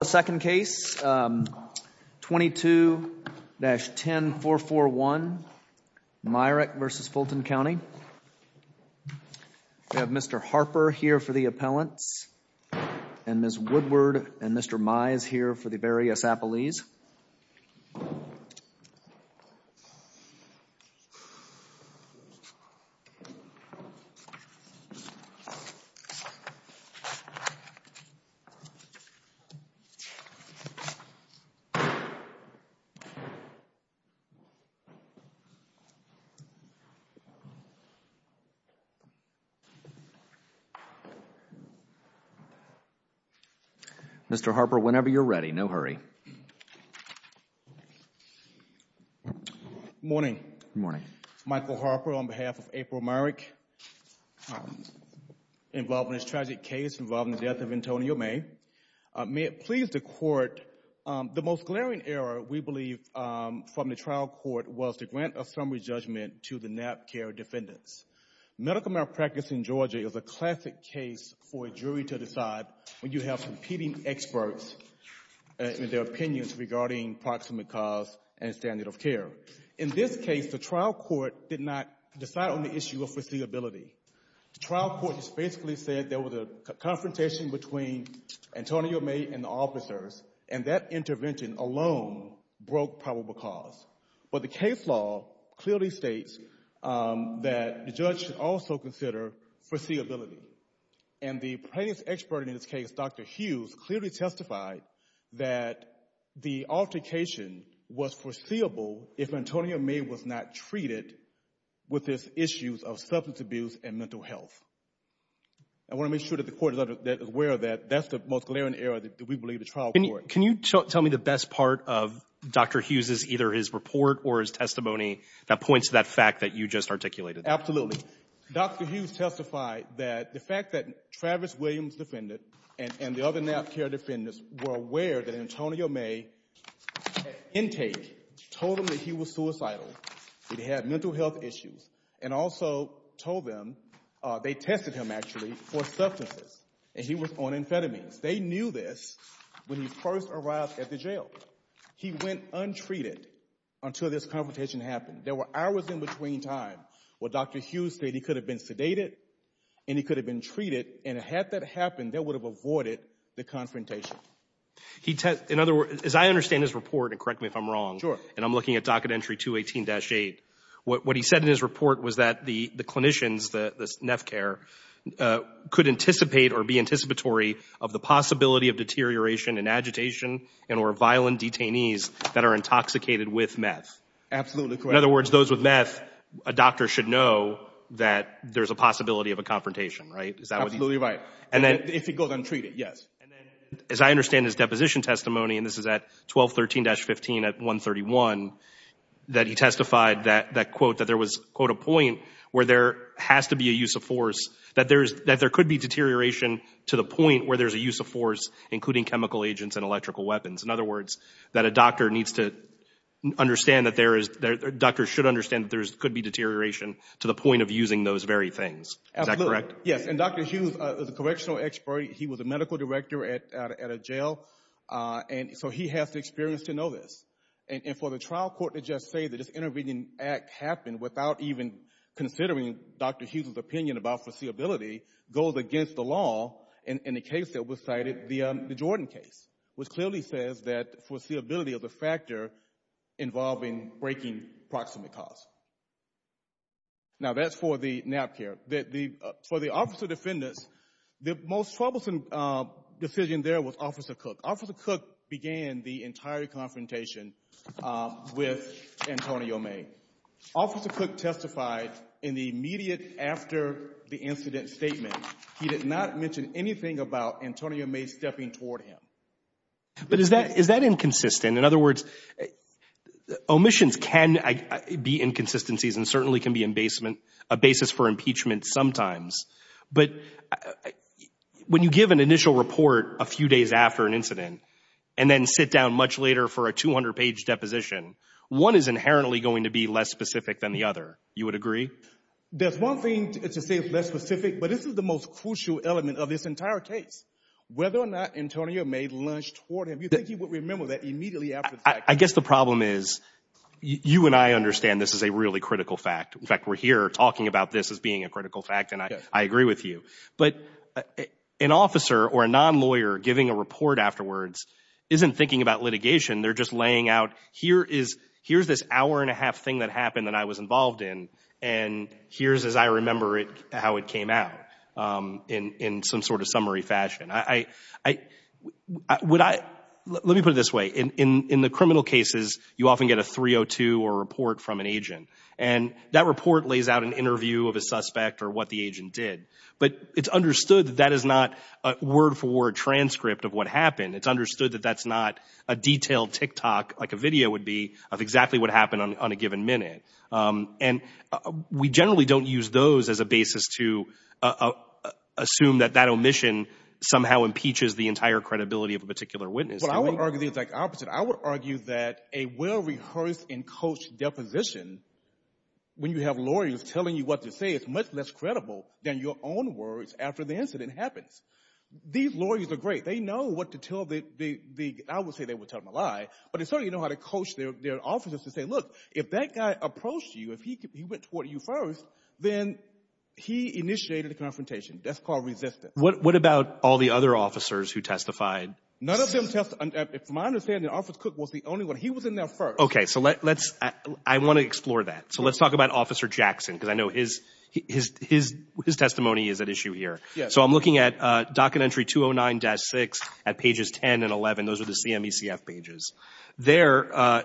The second case, 22-10441 Myrick v. Fulton County. We have Mr. Harper here for the appellants Mr. Harper, whenever you're ready. No hurry. Good morning. Michael Harper on behalf of April Myrick involved in this tragic case involving the death of Antonio May. May it please the Court, the most glaring error, we believe, from the trial court was to grant a summary judgment to the NAP care defendants. Medical malpractice in Georgia is a classic case for a jury to decide when you have competing experts and their opinions regarding proximate cause and standard of care. In this case, the trial court did not decide on the issue of foreseeability. The trial court just basically said there was a confrontation between Antonio May and the officers and that intervention alone broke probable cause. But the case law clearly states that the judge should also consider foreseeability. And the plaintiff's expert in this case, Dr. Hughes, clearly testified that the altercation was foreseeable if Antonio May was not treated with these issues of substance abuse and mental health. I want to make sure that the Court is aware of that. That's the most glaring error that we believe the trial court. Can you tell me the best part of Dr. Hughes' either his report or his testimony that points to that fact that you just articulated? Absolutely. Dr. Hughes testified that the fact that Travis Williams defended and the other NAP care defendants were aware that Antonio May's intake told them that he was They tested him, actually, for substances, and he was on amphetamines. They knew this when he first arrived at the jail. He went untreated until this confrontation happened. There were hours in between time where Dr. Hughes said he could have been sedated and he could have been treated. And had that happened, they would have avoided the confrontation. He testified, in other words, as I understand his report, and correct me if I'm wrong, and I'm looking at docket entry 218-8, what he said in his report was that the clinicians, this NAP care, could anticipate or be anticipatory of the possibility of deterioration and agitation and or violent detainees that are intoxicated with meth. Absolutely correct. In other words, those with meth, a doctor should know that there's a possibility of a confrontation, right? Absolutely right. If he goes untreated, yes. As I understand his deposition testimony, and this is at 1213-15 at 131, that he testified that, quote, that there was, quote, a point where there has to be a use of force, that there could be deterioration to the point where there's a use of force, including chemical agents and electrical weapons. In other words, that a doctor needs to understand that there is, doctors should understand that there could be deterioration to the point of using those very things. Is that correct? Yes, and Dr. Hughes is a correctional expert. He was a medical director at a jail, and so he has the experience to know this. And for the trial court to just say that this intervening act happened without even considering Dr. Hughes' opinion about foreseeability goes against the law in the case that was cited, the Jordan case, which clearly says that foreseeability is a factor involving breaking proximate cause. Now, that's for the NAPCAR. For the officer defendants, the most troublesome decision there was Officer Cook. Officer Cook began the entire confrontation with Antonio May. Officer Cook testified in the immediate after the incident statement. He did not mention anything about Antonio May stepping toward him. But is that inconsistent? In other words, omissions can be inconsistencies and certainly can be a basis for impeachment sometimes. But when you give an initial report a few days after an incident and then sit down much later for a 200-page deposition, one is inherently going to be less specific than the other. You would agree? There's one thing to say it's less specific, but this is the most crucial element of this I guess the problem is you and I understand this is a really critical fact. In fact, we're here talking about this as being a critical fact, and I agree with you. But an officer or a non-lawyer giving a report afterwards isn't thinking about litigation. They're just laying out here is here's this hour and a half thing that happened that I was involved in and here's, as I remember it, how it came out in some sort of summary fashion. Let me put it this way. In the criminal cases, you often get a 302 or report from an agent and that report lays out an interview of a suspect or what the agent did. But it's understood that that is not a word-for-word transcript of what happened. It's understood that that's not a detailed tick-tock, like a video would be, of exactly what happened on a given minute. And we generally don't use those as a basis to assume that that omission somehow impeaches the entire credibility of a particular witness. But I would argue the exact opposite. I would argue that a well-rehearsed and coached deposition, when you have lawyers telling you what to say, is much less credible than your own words after the incident happens. These lawyers are great. They know what to tell the, I would say they would tell them a lie, but they certainly know how to coach their officers to say, look, if that guy approached you, if he went toward you first, then he initiated a confrontation. That's called resistance. What about all the other officers who testified? None of them testified. From my understanding, Officer Cook was the only one. He was in there first. Okay. So let's, I want to explore that. So let's talk about Officer Jackson because I So I'm looking at docket entry 209-6 at pages 10 and 11. Those are the CMECF pages. There,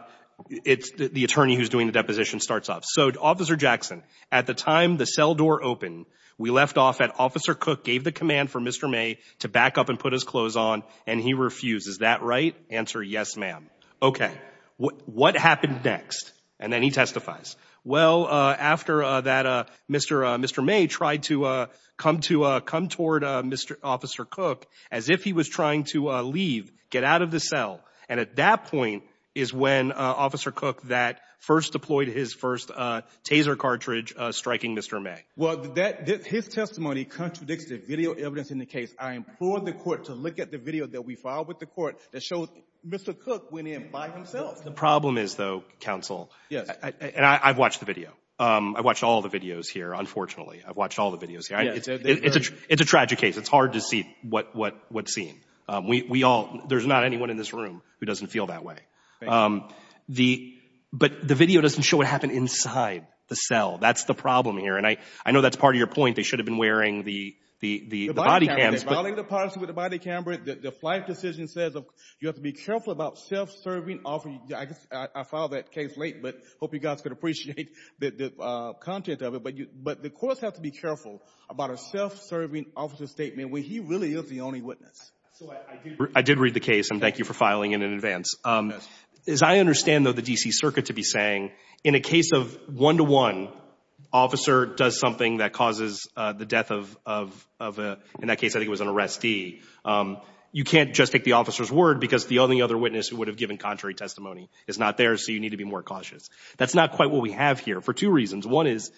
it's the attorney who's doing the deposition starts off. So Officer Jackson, at the time the cell door opened, we left off at Officer Cook gave the command for Mr. May to back up and put his clothes on, and he refused. Is that right? Answer, yes, ma'am. Okay. What happened next? And then he testifies. Well, after that, Mr. May tried to come to toward Mr. Officer Cook as if he was trying to leave, get out of the cell. And at that point is when Officer Cook that first deployed his first taser cartridge striking Mr. May. Well, that his testimony contradicts the video evidence in the case. I implored the court to look at the video that we filed with the court that shows Mr. Cook went in by himself. The problem is, though, counsel, and I've watched the video. I watched all the videos here, unfortunately. I've watched all the videos here. It's a tragic case. It's hard to see what's seen. We all, there's not anyone in this room who doesn't feel that way. But the video doesn't show what happened inside the cell. That's the problem here. And I know that's part of your point. They should have been wearing the body cams, but The body cameras, they're violating the policy with the body cameras. The flight decision says you have to be careful about self-serving. I filed that case late, but I hope you guys could appreciate the content of it. But the courts have to be careful about a self-serving officer's statement when he really is the only witness. I did read the case, and thank you for filing it in advance. As I understand, though, the D.C. Circuit to be saying, in a case of one-to-one, officer does something that causes the death of, in that case, I think it was an arrestee, you can't just take the officer's word because the only other witness who would have given contrary testimony is not there, so you need to be more cautious. That's not quite what we have here for two reasons. One is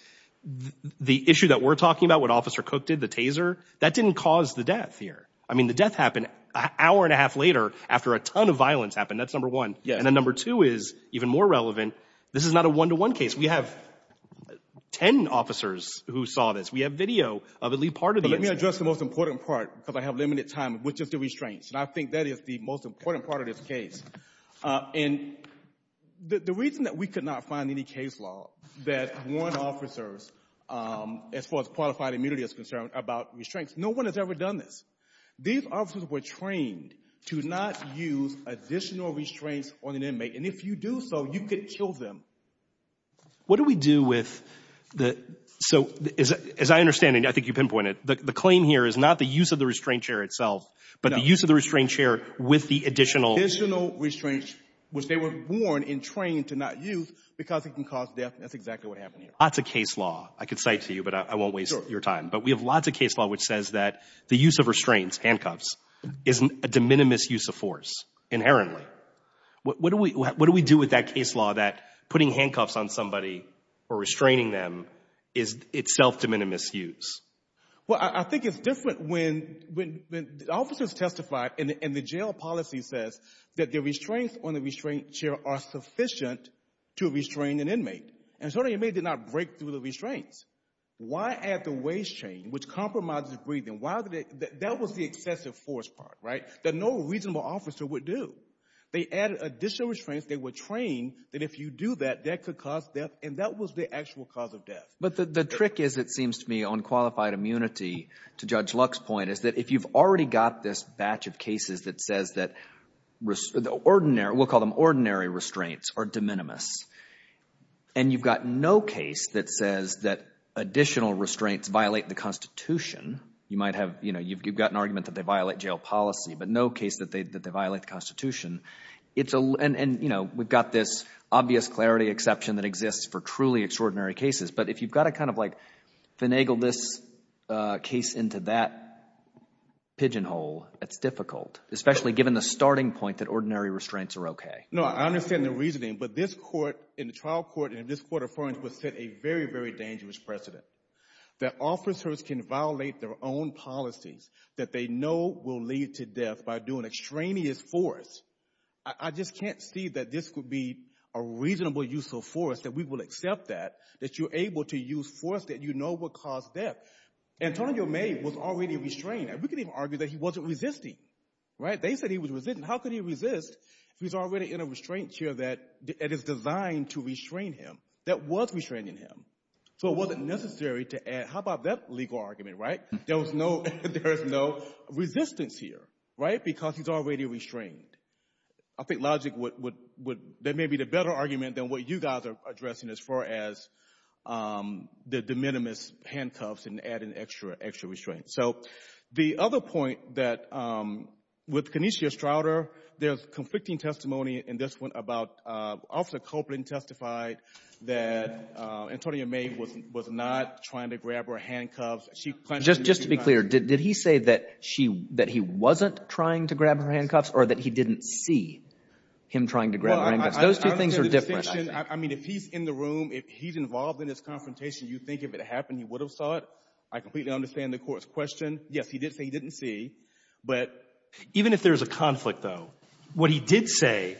the issue that we're talking about, what Officer Cook did, the taser, that didn't cause the death here. I mean, the death happened an hour and a half later after a ton of violence happened. That's number one. And then number two is even more relevant, this is not a one-to-one case. We have ten officers who saw this. We have video of at least part of the incident. But let me address the most important part, because I have limited time, which is the reason that we could not find any case law that warned officers, as far as qualified immunity is concerned, about restraints. No one has ever done this. These officers were trained to not use additional restraints on an inmate, and if you do so, you could kill them. What do we do with the — so, as I understand, and I think you pinpointed, the claim here is not the use of the restraint chair itself, but the use of the restraint chair with the additional — Lots of case law. I could cite to you, but I won't waste your time. But we have lots of case law which says that the use of restraints, handcuffs, is a de minimis use of force, inherently. What do we do with that case law that putting handcuffs on somebody or restraining them is itself de minimis use? Well, I think it's different when the officers testified and the jail policy says that the to restrain an inmate. And so the inmate did not break through the restraints. Why add the waist chain, which compromises breathing? That was the excessive force part, right, that no reasonable officer would do. They added additional restraints. They were trained that if you do that, that could cause death, and that was the actual cause of death. But the trick is, it seems to me, on qualified immunity, to Judge Luck's point, is that if you've already got this batch of cases that says that — we'll call them ordinary restraints — are de minimis, and you've got no case that says that additional restraints violate the Constitution, you might have — you know, you've got an argument that they violate jail policy, but no case that they violate the Constitution, it's a — and, you know, we've got this obvious clarity exception that exists for truly extraordinary cases. But if you've got to kind of like finagle this case into that pigeonhole, it's difficult, especially given the starting point that ordinary restraints are okay. No, I understand the reasoning, but this Court, in the trial court, and in this Court of Appearance, would set a very, very dangerous precedent that officers can violate their own policies that they know will lead to death by doing extraneous force. I just can't see that this could be a reasonable use of force, that we will accept that, that you're able to use force that you know will cause death. Antonio May was already restrained. We could even argue that he wasn't resisting, right? They said he was resisting. How could he resist if he's already in a restraint here that is designed to restrain him, that was restraining him? So it wasn't necessary to add — how about that legal argument, right? There was no — there is no resistance here, right, because he's already restrained. I think logic would — that may be the better argument than what you guys are addressing as far as the de minimis handcuffs and adding extra restraints. So the other point that — with Kenesia Strouder, there's conflicting testimony in this one about — Officer Copeland testified that Antonio May was not trying to grab her handcuffs. Just to be clear, did he say that she — that he wasn't trying to grab her handcuffs or that he didn't see him trying to grab her handcuffs? Those two things are different, I think. Well, I understand the distinction. I mean, if he's in the room, if he's involved in this confrontation, you think if it happened, he would have saw it? I completely understand the Court's question. Yes, he did say he didn't see, but — Even if there's a conflict, though, what he did say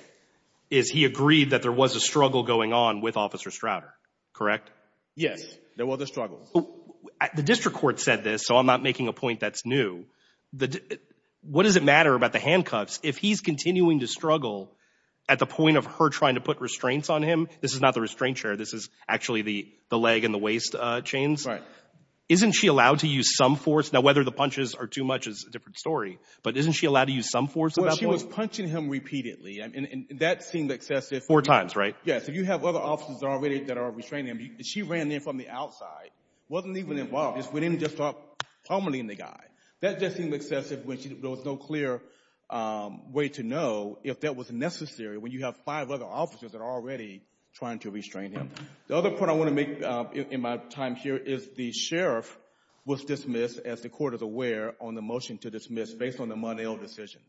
is he agreed that there was a struggle going on with Officer Strouder, correct? Yes, there was a struggle. The district court said this, so I'm not making a point that's new. What does it matter about the handcuffs if he's continuing to struggle at the point of her trying to put restraints on him? This is not the restraint chair. This is actually the leg and the waist chains. Right. Isn't she allowed to use some force? Now, whether the punches are too much is a different story, but isn't she allowed to use some force on that boy? Well, she was punching him repeatedly, and that seemed excessive. Four times, right? Yes. If you have other officers already that are restraining him, she ran in from the outside, wasn't even involved. We didn't just start pommeling the guy. That just seemed excessive when there was no clear way to know if that was necessary when you have five other officers that are already trying to restrain him. The other point I want to make in my time here is the sheriff was dismissed, as the court is aware, on the motion to dismiss based on the Monell decision,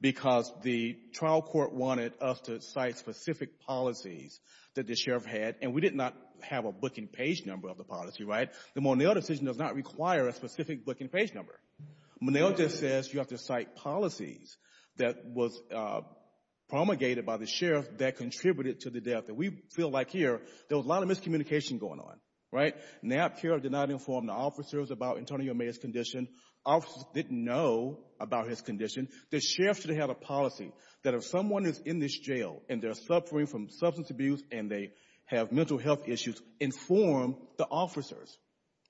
because the trial court wanted us to cite specific policies that the sheriff had, and we did not have a booking page number of the policy, right? The Monell decision does not require a specific booking page number. Monell just says you have to cite policies that was promulgated by the sheriff that contributed to the death, and we feel like here, there was a lot of miscommunication going on, right? NAPCUR did not inform the officers about Attorney O'Meara's condition. Officers didn't know about his condition. The sheriff should have had a policy that if someone is in this jail, and they're suffering from substance abuse, and they have mental health issues, inform the officers.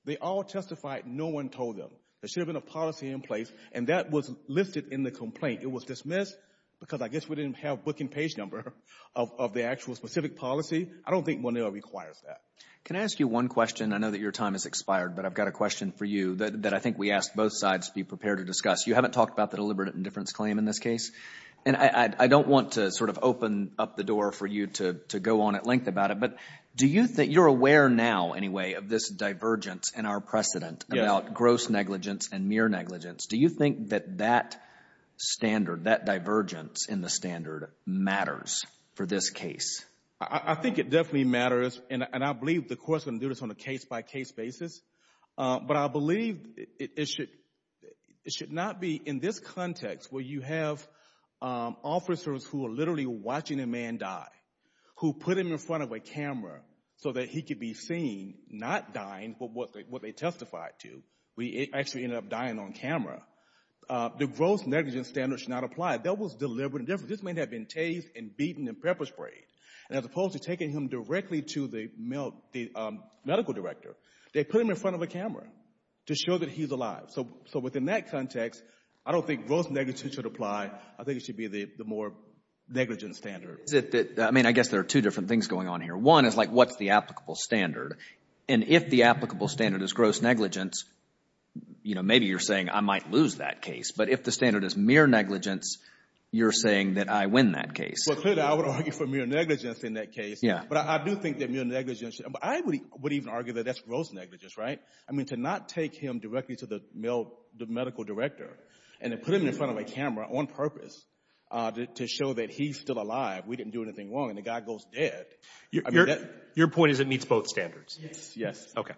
They all testified. No one told them. There should have been a policy in place, and that was listed in the complaint. It was dismissed because I guess we didn't have a booking page number of the actual specific policy. I don't think Monell requires that. Can I ask you one question? I know that your time has expired, but I've got a question for you that I think we asked both sides be prepared to discuss. You haven't talked about the deliberate indifference claim in this case, and I don't want to sort of open up the door for you to go on at length about it, but do you think you're aware now, anyway, of this divergence in our precedent about gross negligence and mere negligence? Do you think that that standard, that matters for this case? I think it definitely matters, and I believe the court's going to do this on a case-by-case basis, but I believe it should, it should not be in this context where you have officers who are literally watching a man die, who put him in front of a camera so that he could be seen not dying, but what they testified to. We actually ended up dying on camera. The gross negligence standard should not apply. That was deliberate indifference. This may have been tased and beaten and pepper-sprayed, and as opposed to taking him directly to the medical director, they put him in front of a camera to show that he's alive. So within that context, I don't think gross negligence should apply. I think it should be the more negligent standard. I mean, I guess there are two different things going on here. One is like what's the applicable standard, and if the applicable standard is gross negligence, you know, maybe you're saying I might lose that case, but if the standard is mere negligence, you're losing that case. Well, clearly, I would argue for mere negligence in that case. Yeah. But I do think that mere negligence, I would even argue that that's gross negligence, right? I mean, to not take him directly to the medical director and then put him in front of a camera on purpose to show that he's still alive, we didn't do anything wrong, and the guy goes dead. Your point is it meets both standards? Yes. Yes. Okay.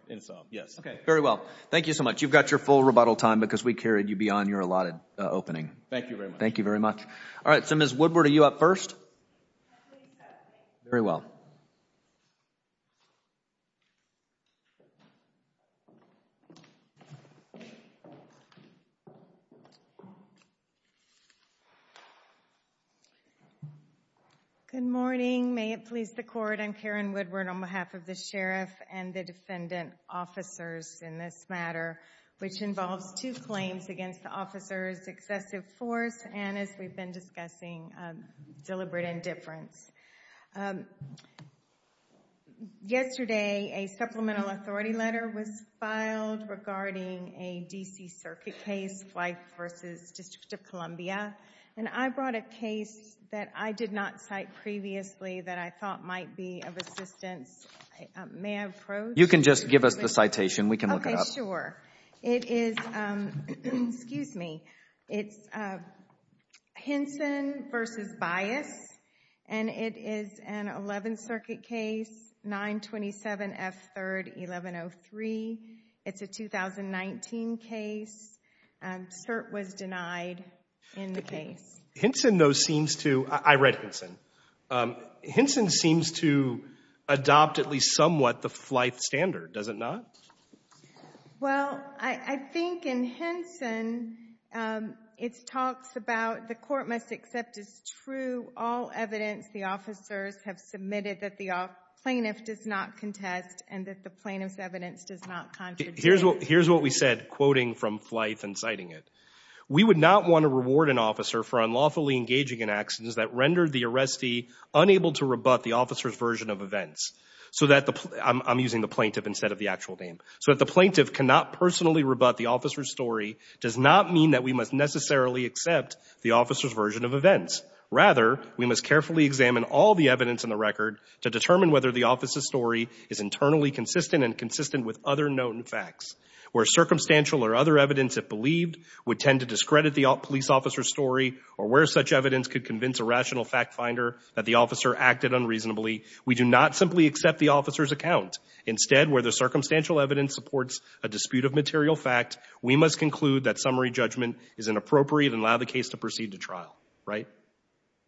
Yes. Okay. Very well. Thank you so much. You've got your full rebuttal time because we carried you beyond your allotted opening. Thank you very much. Thank you very much. All right. So, Ms. Woodward, are you up first? Very well. Good morning. May it please the Court, I'm Karen Woodward on behalf of the Sheriff and the defendant officers in this matter, which involves two claims against the officers, excessive force, and as we've been discussing, deliberate indifference. Yesterday, a supplemental authority letter was filed regarding a DC Circuit case, Fife versus District of Columbia, and I brought a case that I did not cite previously that I thought might be of assistance. May I approach? You can just give us the citation. We can look it up. Okay, sure. It is, excuse me, it's Hinson versus Bias, and it is an 11th Circuit case, 927 F 3rd 1103. It's a 2019 case. CERT was denied in the case. Hinson, though, seems to, I read Hinson, Hinson seems to adopt at Fife standard, does it not? Well, I think in Hinson, it talks about the court must accept as true all evidence the officers have submitted that the plaintiff does not contest and that the plaintiff's evidence does not contradict. Here's what we said, quoting from Fife and citing it. We would not want to reward an officer for unlawfully engaging in actions that rendered the arrestee unable to rebut the officer's version of events so that the, I'm using the plaintiff instead of the actual name, so that the plaintiff cannot personally rebut the officer's story does not mean that we must necessarily accept the officer's version of events. Rather, we must carefully examine all the evidence in the record to determine whether the officer's story is internally consistent and consistent with other known facts, where circumstantial or other evidence, if believed, would tend to discredit the police officer's story or where such an officer acted unreasonably. We do not simply accept the officer's account. Instead, where the circumstantial evidence supports a dispute of material fact, we must conclude that summary judgment is inappropriate and allow the case to proceed to trial, right?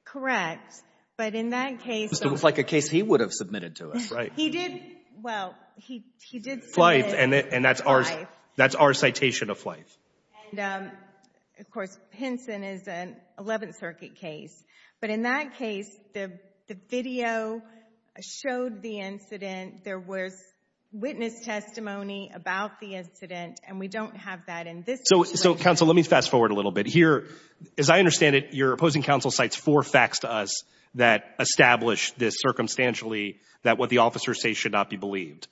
Correct. But in that case, it looks like a case he would have submitted to us, right? He did. Well, he did. And that's ours. That's our citation of life. And, of course, Henson is an 11th Circuit case. But in that case, the video showed the incident. There was witness testimony about the incident, and we don't have that in this case. So, counsel, let me fast forward a little bit. Here, as I understand it, you're opposing counsel cites four facts to us that establish this circumstantially, that what the officers say should not be believed.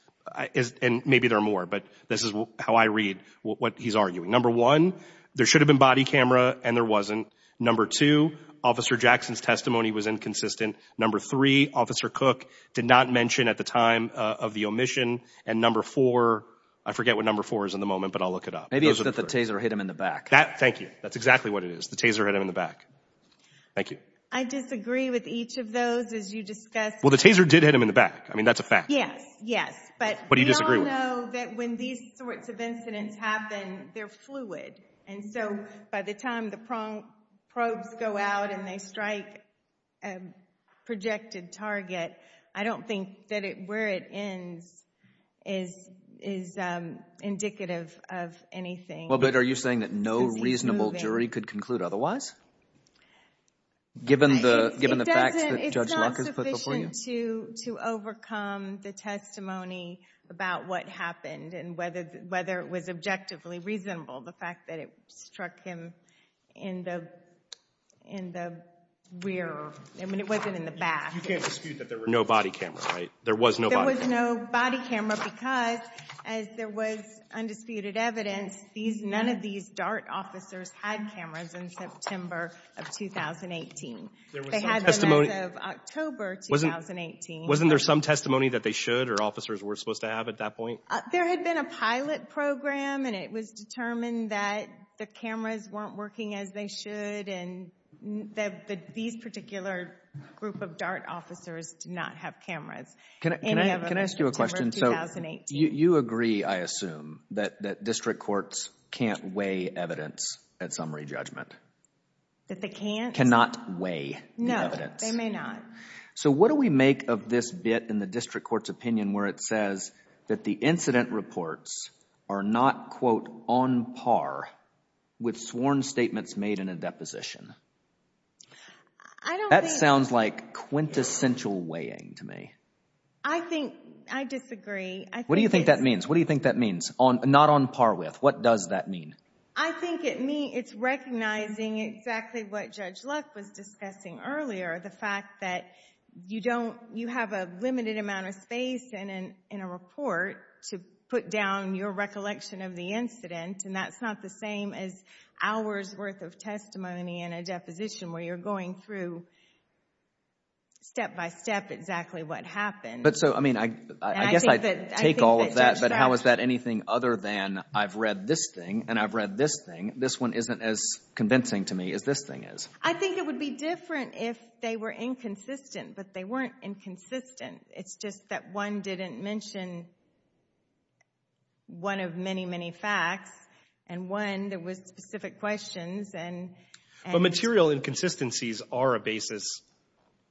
And maybe there are more, but this is how I read what he's arguing. Number one, there should have been body camera, and there wasn't. Number two, Officer Jackson's testimony was inconsistent. Number three, Officer Cook did not mention at the time of the omission. And number four, I forget what number four is in the moment, but I'll look it up. Maybe it's that the taser hit him in the back. Thank you. That's exactly what it is. The taser hit him in the back. Thank you. I disagree with each of those, as you discussed. Well, the taser did hit him in the back. I mean, that's a fact. Yes, yes. But we all know that when these sorts of incidents happen, they're fluid. And so, by the time the probes go out and they strike a projected target, I don't think that where it ends is indicative of anything. Well, but are you saying that no reasonable jury could conclude otherwise? Given the facts that Judge Luck has put before you? It's not reasonable to overcome the testimony about what happened and whether it was objectively reasonable, the fact that it struck him in the rear. I mean, it wasn't in the back. You can't dispute that there were no body cameras, right? There was no body camera. There was no body camera because, as there was undisputed evidence, none of these DART officers had cameras in September of 2018. They had them as of October 2018. Wasn't there some testimony that they should or officers were supposed to have at that point? There had been a pilot program and it was determined that the cameras weren't working as they should and that these particular group of DART officers did not have cameras. Can I ask you a question? So, you agree, I assume, that district courts can't weigh evidence at summary judgment? That they bit in the district court's opinion where it says that the incident reports are not, quote, on par with sworn statements made in a deposition. That sounds like quintessential weighing to me. I think, I disagree. What do you think that means? What do you think that means, not on par with? What does that mean? I think it means it's recognizing exactly what Judge Luck was discussing earlier. The fact that you don't, you have a limited amount of space in a report to put down your recollection of the incident and that's not the same as hours worth of testimony in a deposition where you're going through, step-by-step, exactly what happened. But so, I mean, I guess I take all of that, but how is that anything other than I've read this thing and I've read this thing. This one isn't as convincing to me as this thing is. I think it would be different if they were inconsistent, but they weren't inconsistent. It's just that one didn't mention one of many, many facts and one that was specific questions. But material inconsistencies are a basis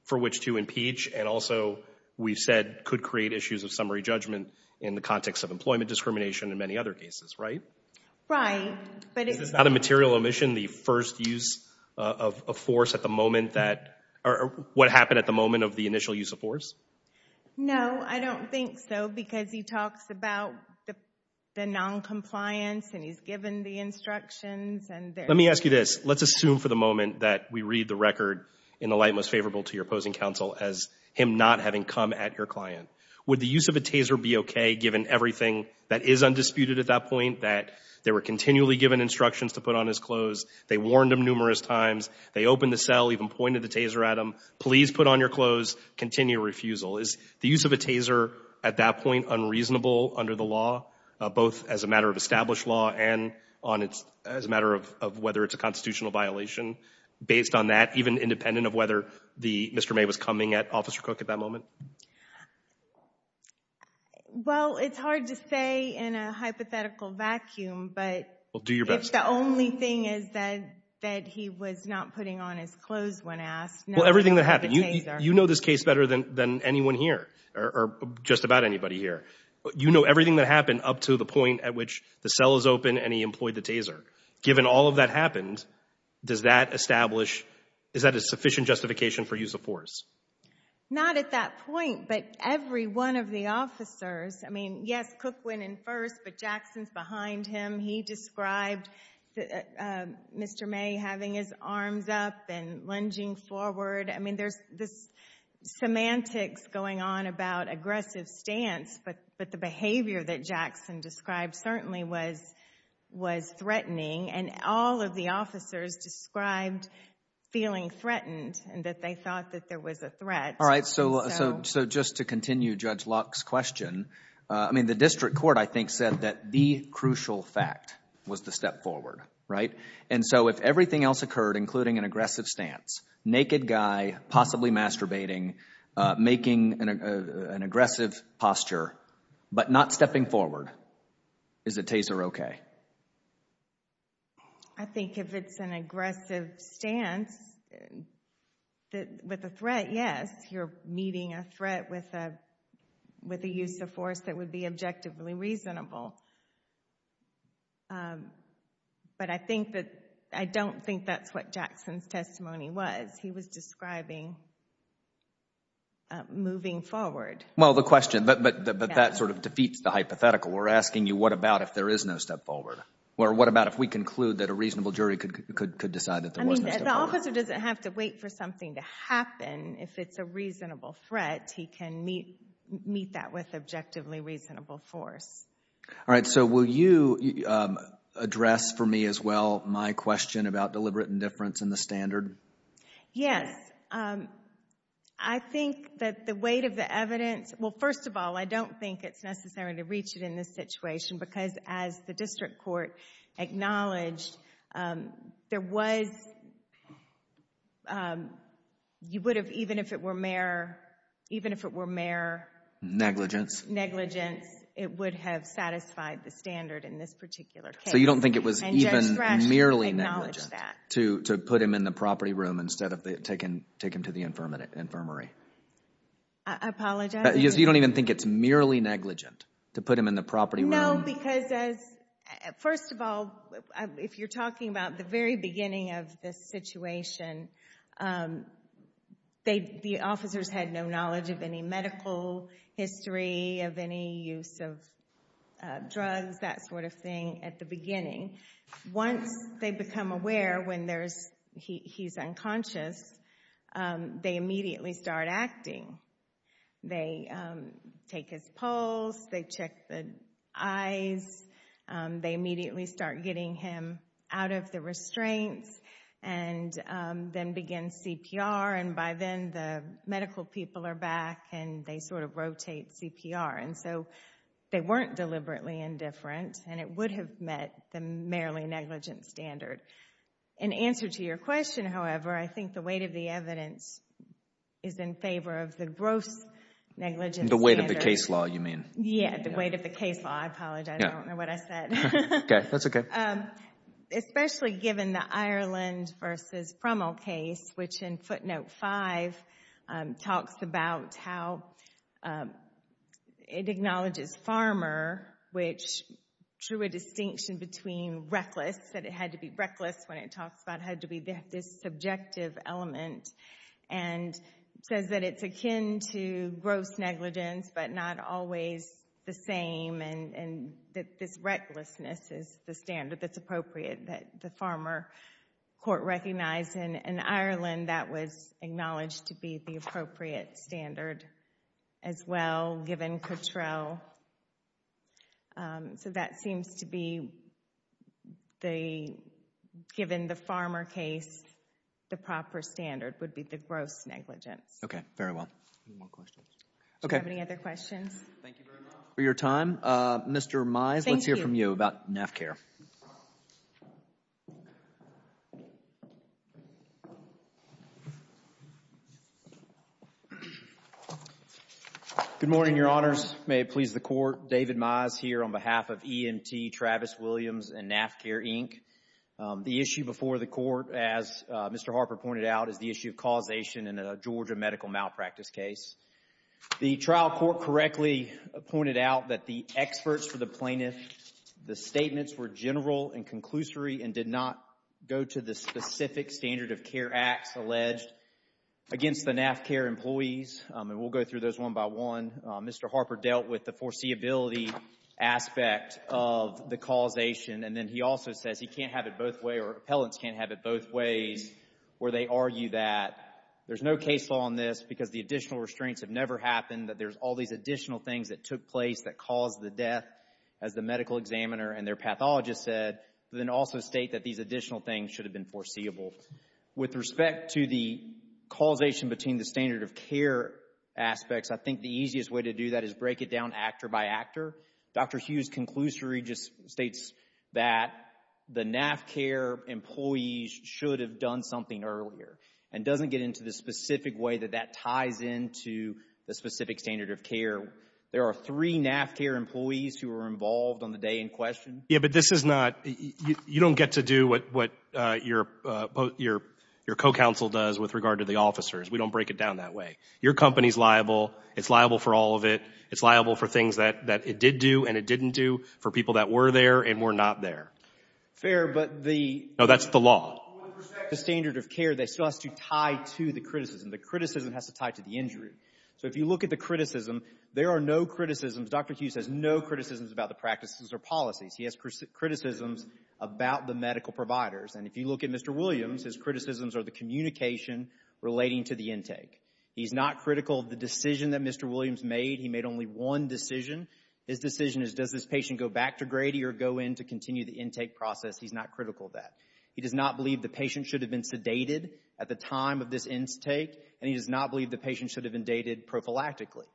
for which to impeach and also, we've said, could create issues of summary judgment in the context of employment the first use of force at the moment that, or what happened at the moment of the initial use of force? No, I don't think so because he talks about the non-compliance and he's given the instructions. Let me ask you this, let's assume for the moment that we read the record in the light most favorable to your opposing counsel as him not having come at your client. Would the use of a taser be okay given everything that is undisputed at that point, that they were They warned him numerous times. They opened the cell, even pointed the taser at him. Please put on your clothes, continue refusal. Is the use of a taser at that point unreasonable under the law, both as a matter of established law and on its, as a matter of whether it's a constitutional violation? Based on that, even independent of whether the, Mr. May was coming at Officer Cook at that moment? Well, it's hard to say in a hypothetical vacuum, but Well, do your best. If the only thing is that, that he was not putting on his clothes when asked. Well, everything that happened. You know this case better than anyone here, or just about anybody here. You know everything that happened up to the point at which the cell is open and he employed the taser. Given all of that happened, does that establish, is that a sufficient justification for use of force? Not at that point, but every one of the officers, I mean, yes, Cook went first, but Jackson's behind him. He described Mr. May having his arms up and lunging forward. I mean, there's this semantics going on about aggressive stance, but the behavior that Jackson described certainly was threatening, and all of the officers described feeling threatened, and that they thought that there was a threat. All right, so just to continue Judge Locke's question, I mean, the district court, I think, said that the crucial fact was to step forward, right? And so, if everything else occurred, including an aggressive stance, naked guy, possibly masturbating, making an aggressive posture, but not stepping forward, is a taser okay? I think if it's an aggressive stance with a threat, yes, you're meeting a threat with a use of force that would be objectively reasonable. But I think that, I don't think that's what Jackson's testimony was. He was describing moving forward. Well, the question, but that sort of defeats the hypothetical. We're asking you, what about if there is no step forward? Or what about if we conclude that a reasonable jury could decide that there was no step forward? I mean, the officer doesn't have to wait for something to be a reasonable threat. He can meet that with objectively reasonable force. All right, so will you address for me as well my question about deliberate indifference in the standard? Yes. I think that the weight of the evidence, well, first of all, I don't think it's necessary to reach it in this situation, because as the district court acknowledged, there was, you would have, even if it were mere negligence, it would have satisfied the standard in this particular case. So you don't think it was even merely negligent to put him in the property room instead of take him to the infirmary? I apologize. You don't even think it's merely negligent to put him in the property room? Because first of all, if you're talking about the very beginning of this situation, the officers had no knowledge of any medical history, of any use of drugs, that sort of thing at the beginning. Once they become aware when he's unconscious, they immediately start acting. They take his pulse, they check the eyes, they immediately start getting him out of the restraints, and then begin CPR. And by then, the medical people are back, and they sort of rotate CPR. And so they weren't deliberately indifferent, and it would have met the merely negligent standard. In answer to your question, however, I think the weight of the evidence is in favor of the gross negligence standard. The weight of the case law, you mean? Yeah, the weight of the case law. I apologize. I don't know what I said. Okay, that's okay. Especially given the Ireland v. Frommel case, which in footnote 5 talks about how it acknowledges Farmer, which drew a distinction between reckless, that it had to be reckless when it talks about how to be this subjective element, and says that it's akin to gross negligence, but not always the same, and that this recklessness is the standard that's appropriate, that the Farmer court recognized. And in Ireland, that was acknowledged to be the appropriate standard as well, given Cottrell. So that seems to be, given the Farmer case, the proper standard would be the gross negligence. Okay, very well. Any more questions? Okay. Do you have any other questions? Thank you very much for your time. Mr. Mize, let's hear from you about NAFCARE. Thank you. Good morning, Your Honors. May it please the Court. David Mize here on behalf of EMT, Travis Williams, and NAFCARE, Inc. The issue before the Court, as Mr. Harper pointed out, is the issue of causation in a Georgia medical malpractice case. The trial court correctly pointed out that the experts for the plaintiff, the statements were general and conclusory and did not go to the specific standard of care acts alleged against the NAFCARE employees, and we'll go through those one by one. Mr. Harper dealt with the foreseeability aspect of the causation, and then he also says he can't have it both ways, or appellants can't have it both ways, where they argue that there's no case law on this because the additional restraints have never happened, that there's all these additional things that took place that caused the death, as the medical examiner and their pathologist said, but then also state that these additional things should have been foreseeable. With respect to the causation between the standard of care aspects, I think the easiest way to do that is break it down actor by actor. Dr. Hughes' conclusory just states that the NAFCARE employees should have done something earlier and doesn't get into the specific way that that ties into the specific standard of care. There are three NAFCARE employees who were involved on the day in question. Yeah, but this is not, you don't get to do what your co-counsel does with regard to the officers. We don't break it down that way. Your company's liable. It's liable for all of it. It's liable for things that it did do and it didn't do for people that were there and were not there. Fair, but the— No, that's the law. With respect to the standard of care, that still has to tie to the criticism. The criticism has to tie to the injury. So if you look at the criticism, there are no criticisms. Dr. Hughes has no criticisms about the practices or policies. He has criticisms about the medical providers and if you look at Mr. Williams, his criticisms are the communication relating to the intake. He's not critical of the decision that Mr. Williams made. He made only one decision. His decision is does this patient go back to Grady or go in to continue the intake process? He's not critical of that. He does not believe the patient should have been sedated at the time of this intake and he does not believe the patient should have been dated prophylactically.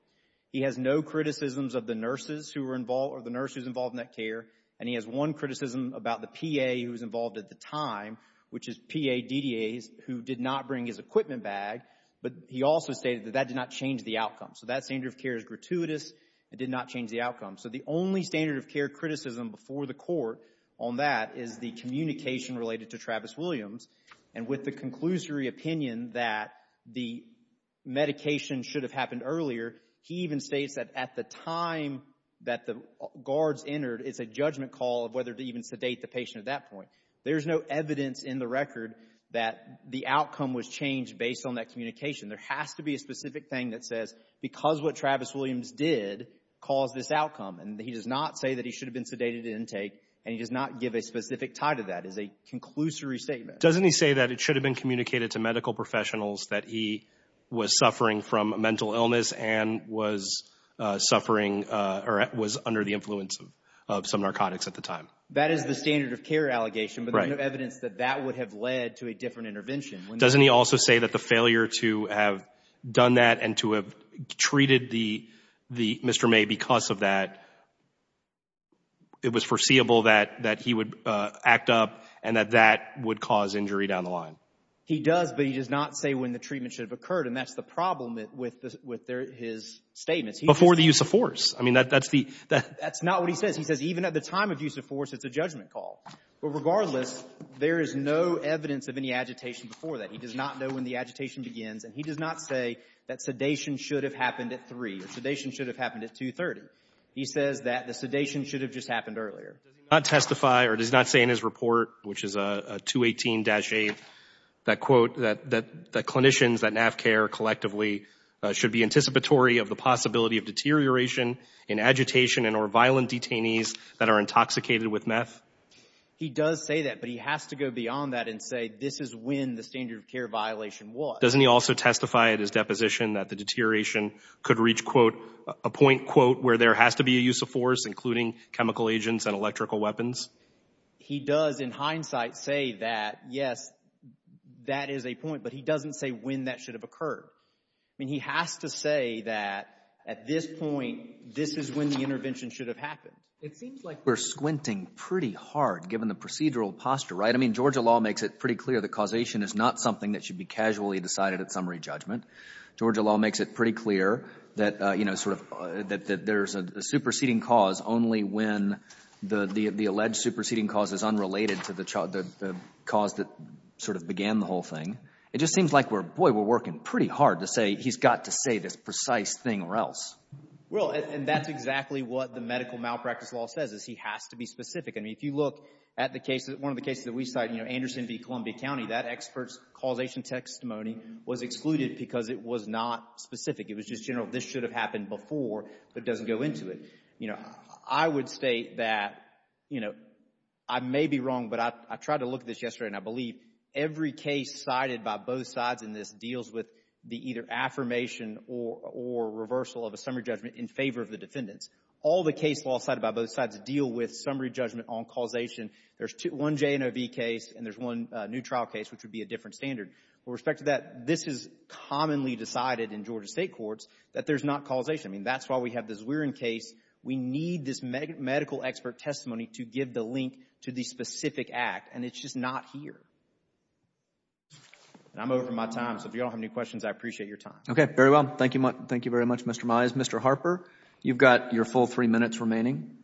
He has no criticisms of the nurses who were involved or the nurse who's involved in that care and he has one criticism about the PA who was involved at the time, which is PA, DDAs, who did not bring his equipment bag, but he also stated that that did not change the outcome. So that standard of care is gratuitous. It did not change the outcome. So the only standard of care criticism before the court on that is the communication related to Travis Williams and with the conclusory opinion that the medication should have happened earlier, he even states that at the time that the guards entered, it's a judgment call of whether to even sedate the patient at that point. There's no evidence in the record that the outcome was changed based on that communication. There has to be a specific thing that says because what Travis Williams did caused this outcome and he does not say that he should have been sedated at intake and he does not give a specific tie to that. It's a conclusory statement. Doesn't he say that it should have been communicated to medical professionals that he was suffering from a mental illness and was suffering or was under the influence of some narcotics at the time? That is the standard of care allegation, but there's no evidence that that would have led to a different intervention. Doesn't he also say that the failure to have done that and to have treated the Mr. May because of that, it was foreseeable that he would act up and that that would cause injury down the line? He does, but he does not say when the treatment should have occurred. And that's the problem with his statements. Before the use of force. I mean, that's the— That's not what he says. He says even at the time of use of force, it's a judgment call. But regardless, there is no evidence of any agitation before that. He does not know when the agitation begins and he does not say that sedation should have happened at 3. The sedation should have happened at 2.30. He says that the sedation should have just happened earlier. Does he not testify or does not say in his report, which is a 218-8, that quote that clinicians that NAVCARE collectively should be anticipatory of the possibility of deterioration in agitation and or violent detainees that are intoxicated with meth? He does say that, but he has to go beyond that and say this is when the standard of care violation was. Doesn't he also testify at his deposition that the deterioration could reach, quote, a point, quote, where there has to be a use of force, including chemical agents and electrical weapons? He does in hindsight say that, yes, that is a point, but he doesn't say when that should have occurred. I mean, he has to say that at this point, this is when the intervention should have happened. It seems like we're squinting pretty hard given the procedural posture, right? I mean, Georgia law makes it pretty clear that causation is not something that is decided at summary judgment. Georgia law makes it pretty clear that, you know, sort of that there's a superseding cause only when the alleged superseding cause is unrelated to the cause that sort of began the whole thing. It just seems like we're, boy, we're working pretty hard to say he's got to say this precise thing or else. Well, and that's exactly what the medical malpractice law says, is he has to be specific. I mean, if you look at the case, one of the cases that we cite, you know, Anderson v. Columbia County, that expert's causation testimony was excluded because it was not specific. It was just general, this should have happened before, but it doesn't go into it. You know, I would state that, you know, I may be wrong, but I tried to look at this yesterday, and I believe every case cited by both sides in this deals with the either affirmation or reversal of a summary judgment in favor of the defendants. All the case law cited by both sides deal with summary judgment on causation. There's one J&O v. case, and there's one new trial case, which would be a different standard. With respect to that, this is commonly decided in Georgia state courts that there's not causation. I mean, that's why we have this Weirin case. We need this medical expert testimony to give the link to the specific act, and it's just not here. And I'm over my time, so if you all have any questions, I appreciate your time. Okay. Very well. Thank you. Thank you very much, Mr. Mize. Mr. Harper, you've got your full three minutes remaining.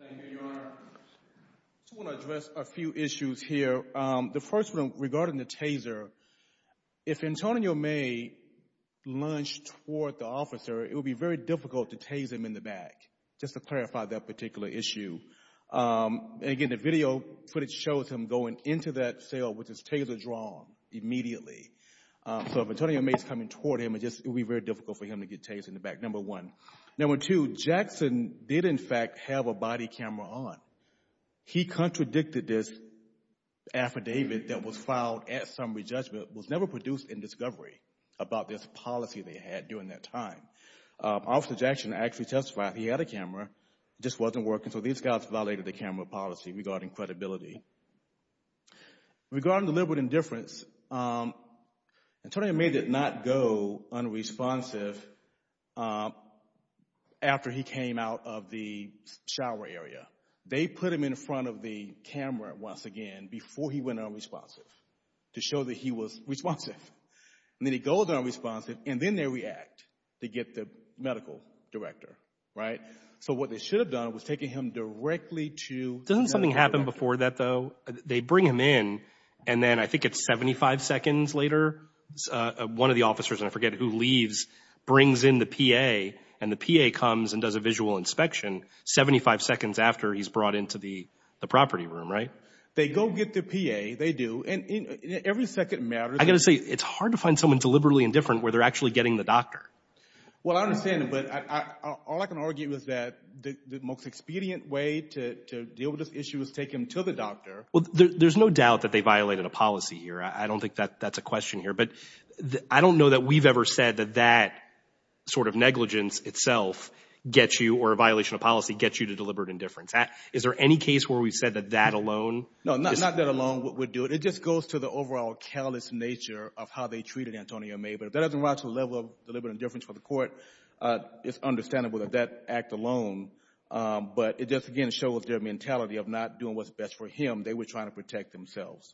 Thank you, Your Honor. I just want to address a few issues here. The first one, regarding the taser, if Antonio May lunged toward the officer, it would be very difficult to tase him in the back, just to clarify that particular issue. And again, the video footage shows him going into that cell with his taser drawn immediately. So if Antonio May is coming toward him, it would be very difficult for him to get tased in the back, number one. Number two, Jackson did, in fact, have a body camera on. He contradicted this affidavit that was filed at summary judgment, was never produced in discovery about this policy they had during that time. Officer Jackson actually testified he had a camera, just wasn't working, so these guys violated the camera policy regarding credibility. Regarding the deliberate indifference, Antonio May did not go unresponsive after he came out of the shower area. They put him in front of the camera, once again, before he went unresponsive, to show that he was responsive. And then he goes unresponsive, and then they react to get the medical director, right? So what they should have done was taken him directly to— Doesn't something happen before that, though? They bring him in, and then I think it's 75 seconds later, one of the officers, and I forget who, leaves, brings in the PA, and the PA comes and does a visual inspection 75 seconds after he's brought into the property room, right? They go get the PA, they do, and every second matters. I've got to say, it's hard to find someone deliberately indifferent where they're actually getting the doctor. Well, I understand, but all I can argue is that the most expedient way to deal with issues is to take him to the doctor. Well, there's no doubt that they violated a policy here. I don't think that's a question here. But I don't know that we've ever said that that sort of negligence itself gets you, or a violation of policy gets you, to deliberate indifference. Is there any case where we've said that that alone— No, not that alone would do it. It just goes to the overall callous nature of how they treated Antonio May. But if that doesn't rise to the level of deliberate indifference for the court, it's understandable that that act alone. But it just, again, shows their mentality of not doing what's best for him. They were trying to protect themselves.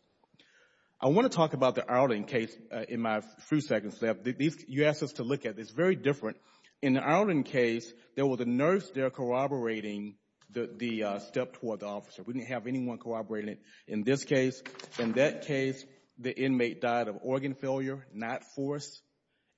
I want to talk about the Arlen case in my few seconds left. You asked us to look at it. It's very different. In the Arlen case, there was a nurse there corroborating the step toward the officer. We didn't have anyone corroborating it in this case. In that case, the inmate died of organ failure, not force.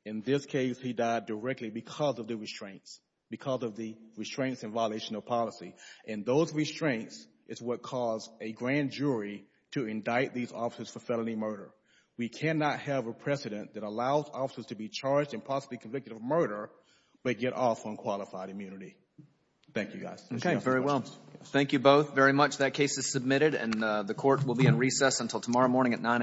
In this case, he died directly because of the restraints, because of the restraints in violation of policy. And those restraints is what caused a grand jury to indict these officers for felony murder. We cannot have a precedent that allows officers to be charged and possibly convicted of murder but get off on qualified immunity. Thank you, guys. Okay, very well. Thank you both very much. That case is submitted, and the court will be in recess until tomorrow morning at 9 a.m.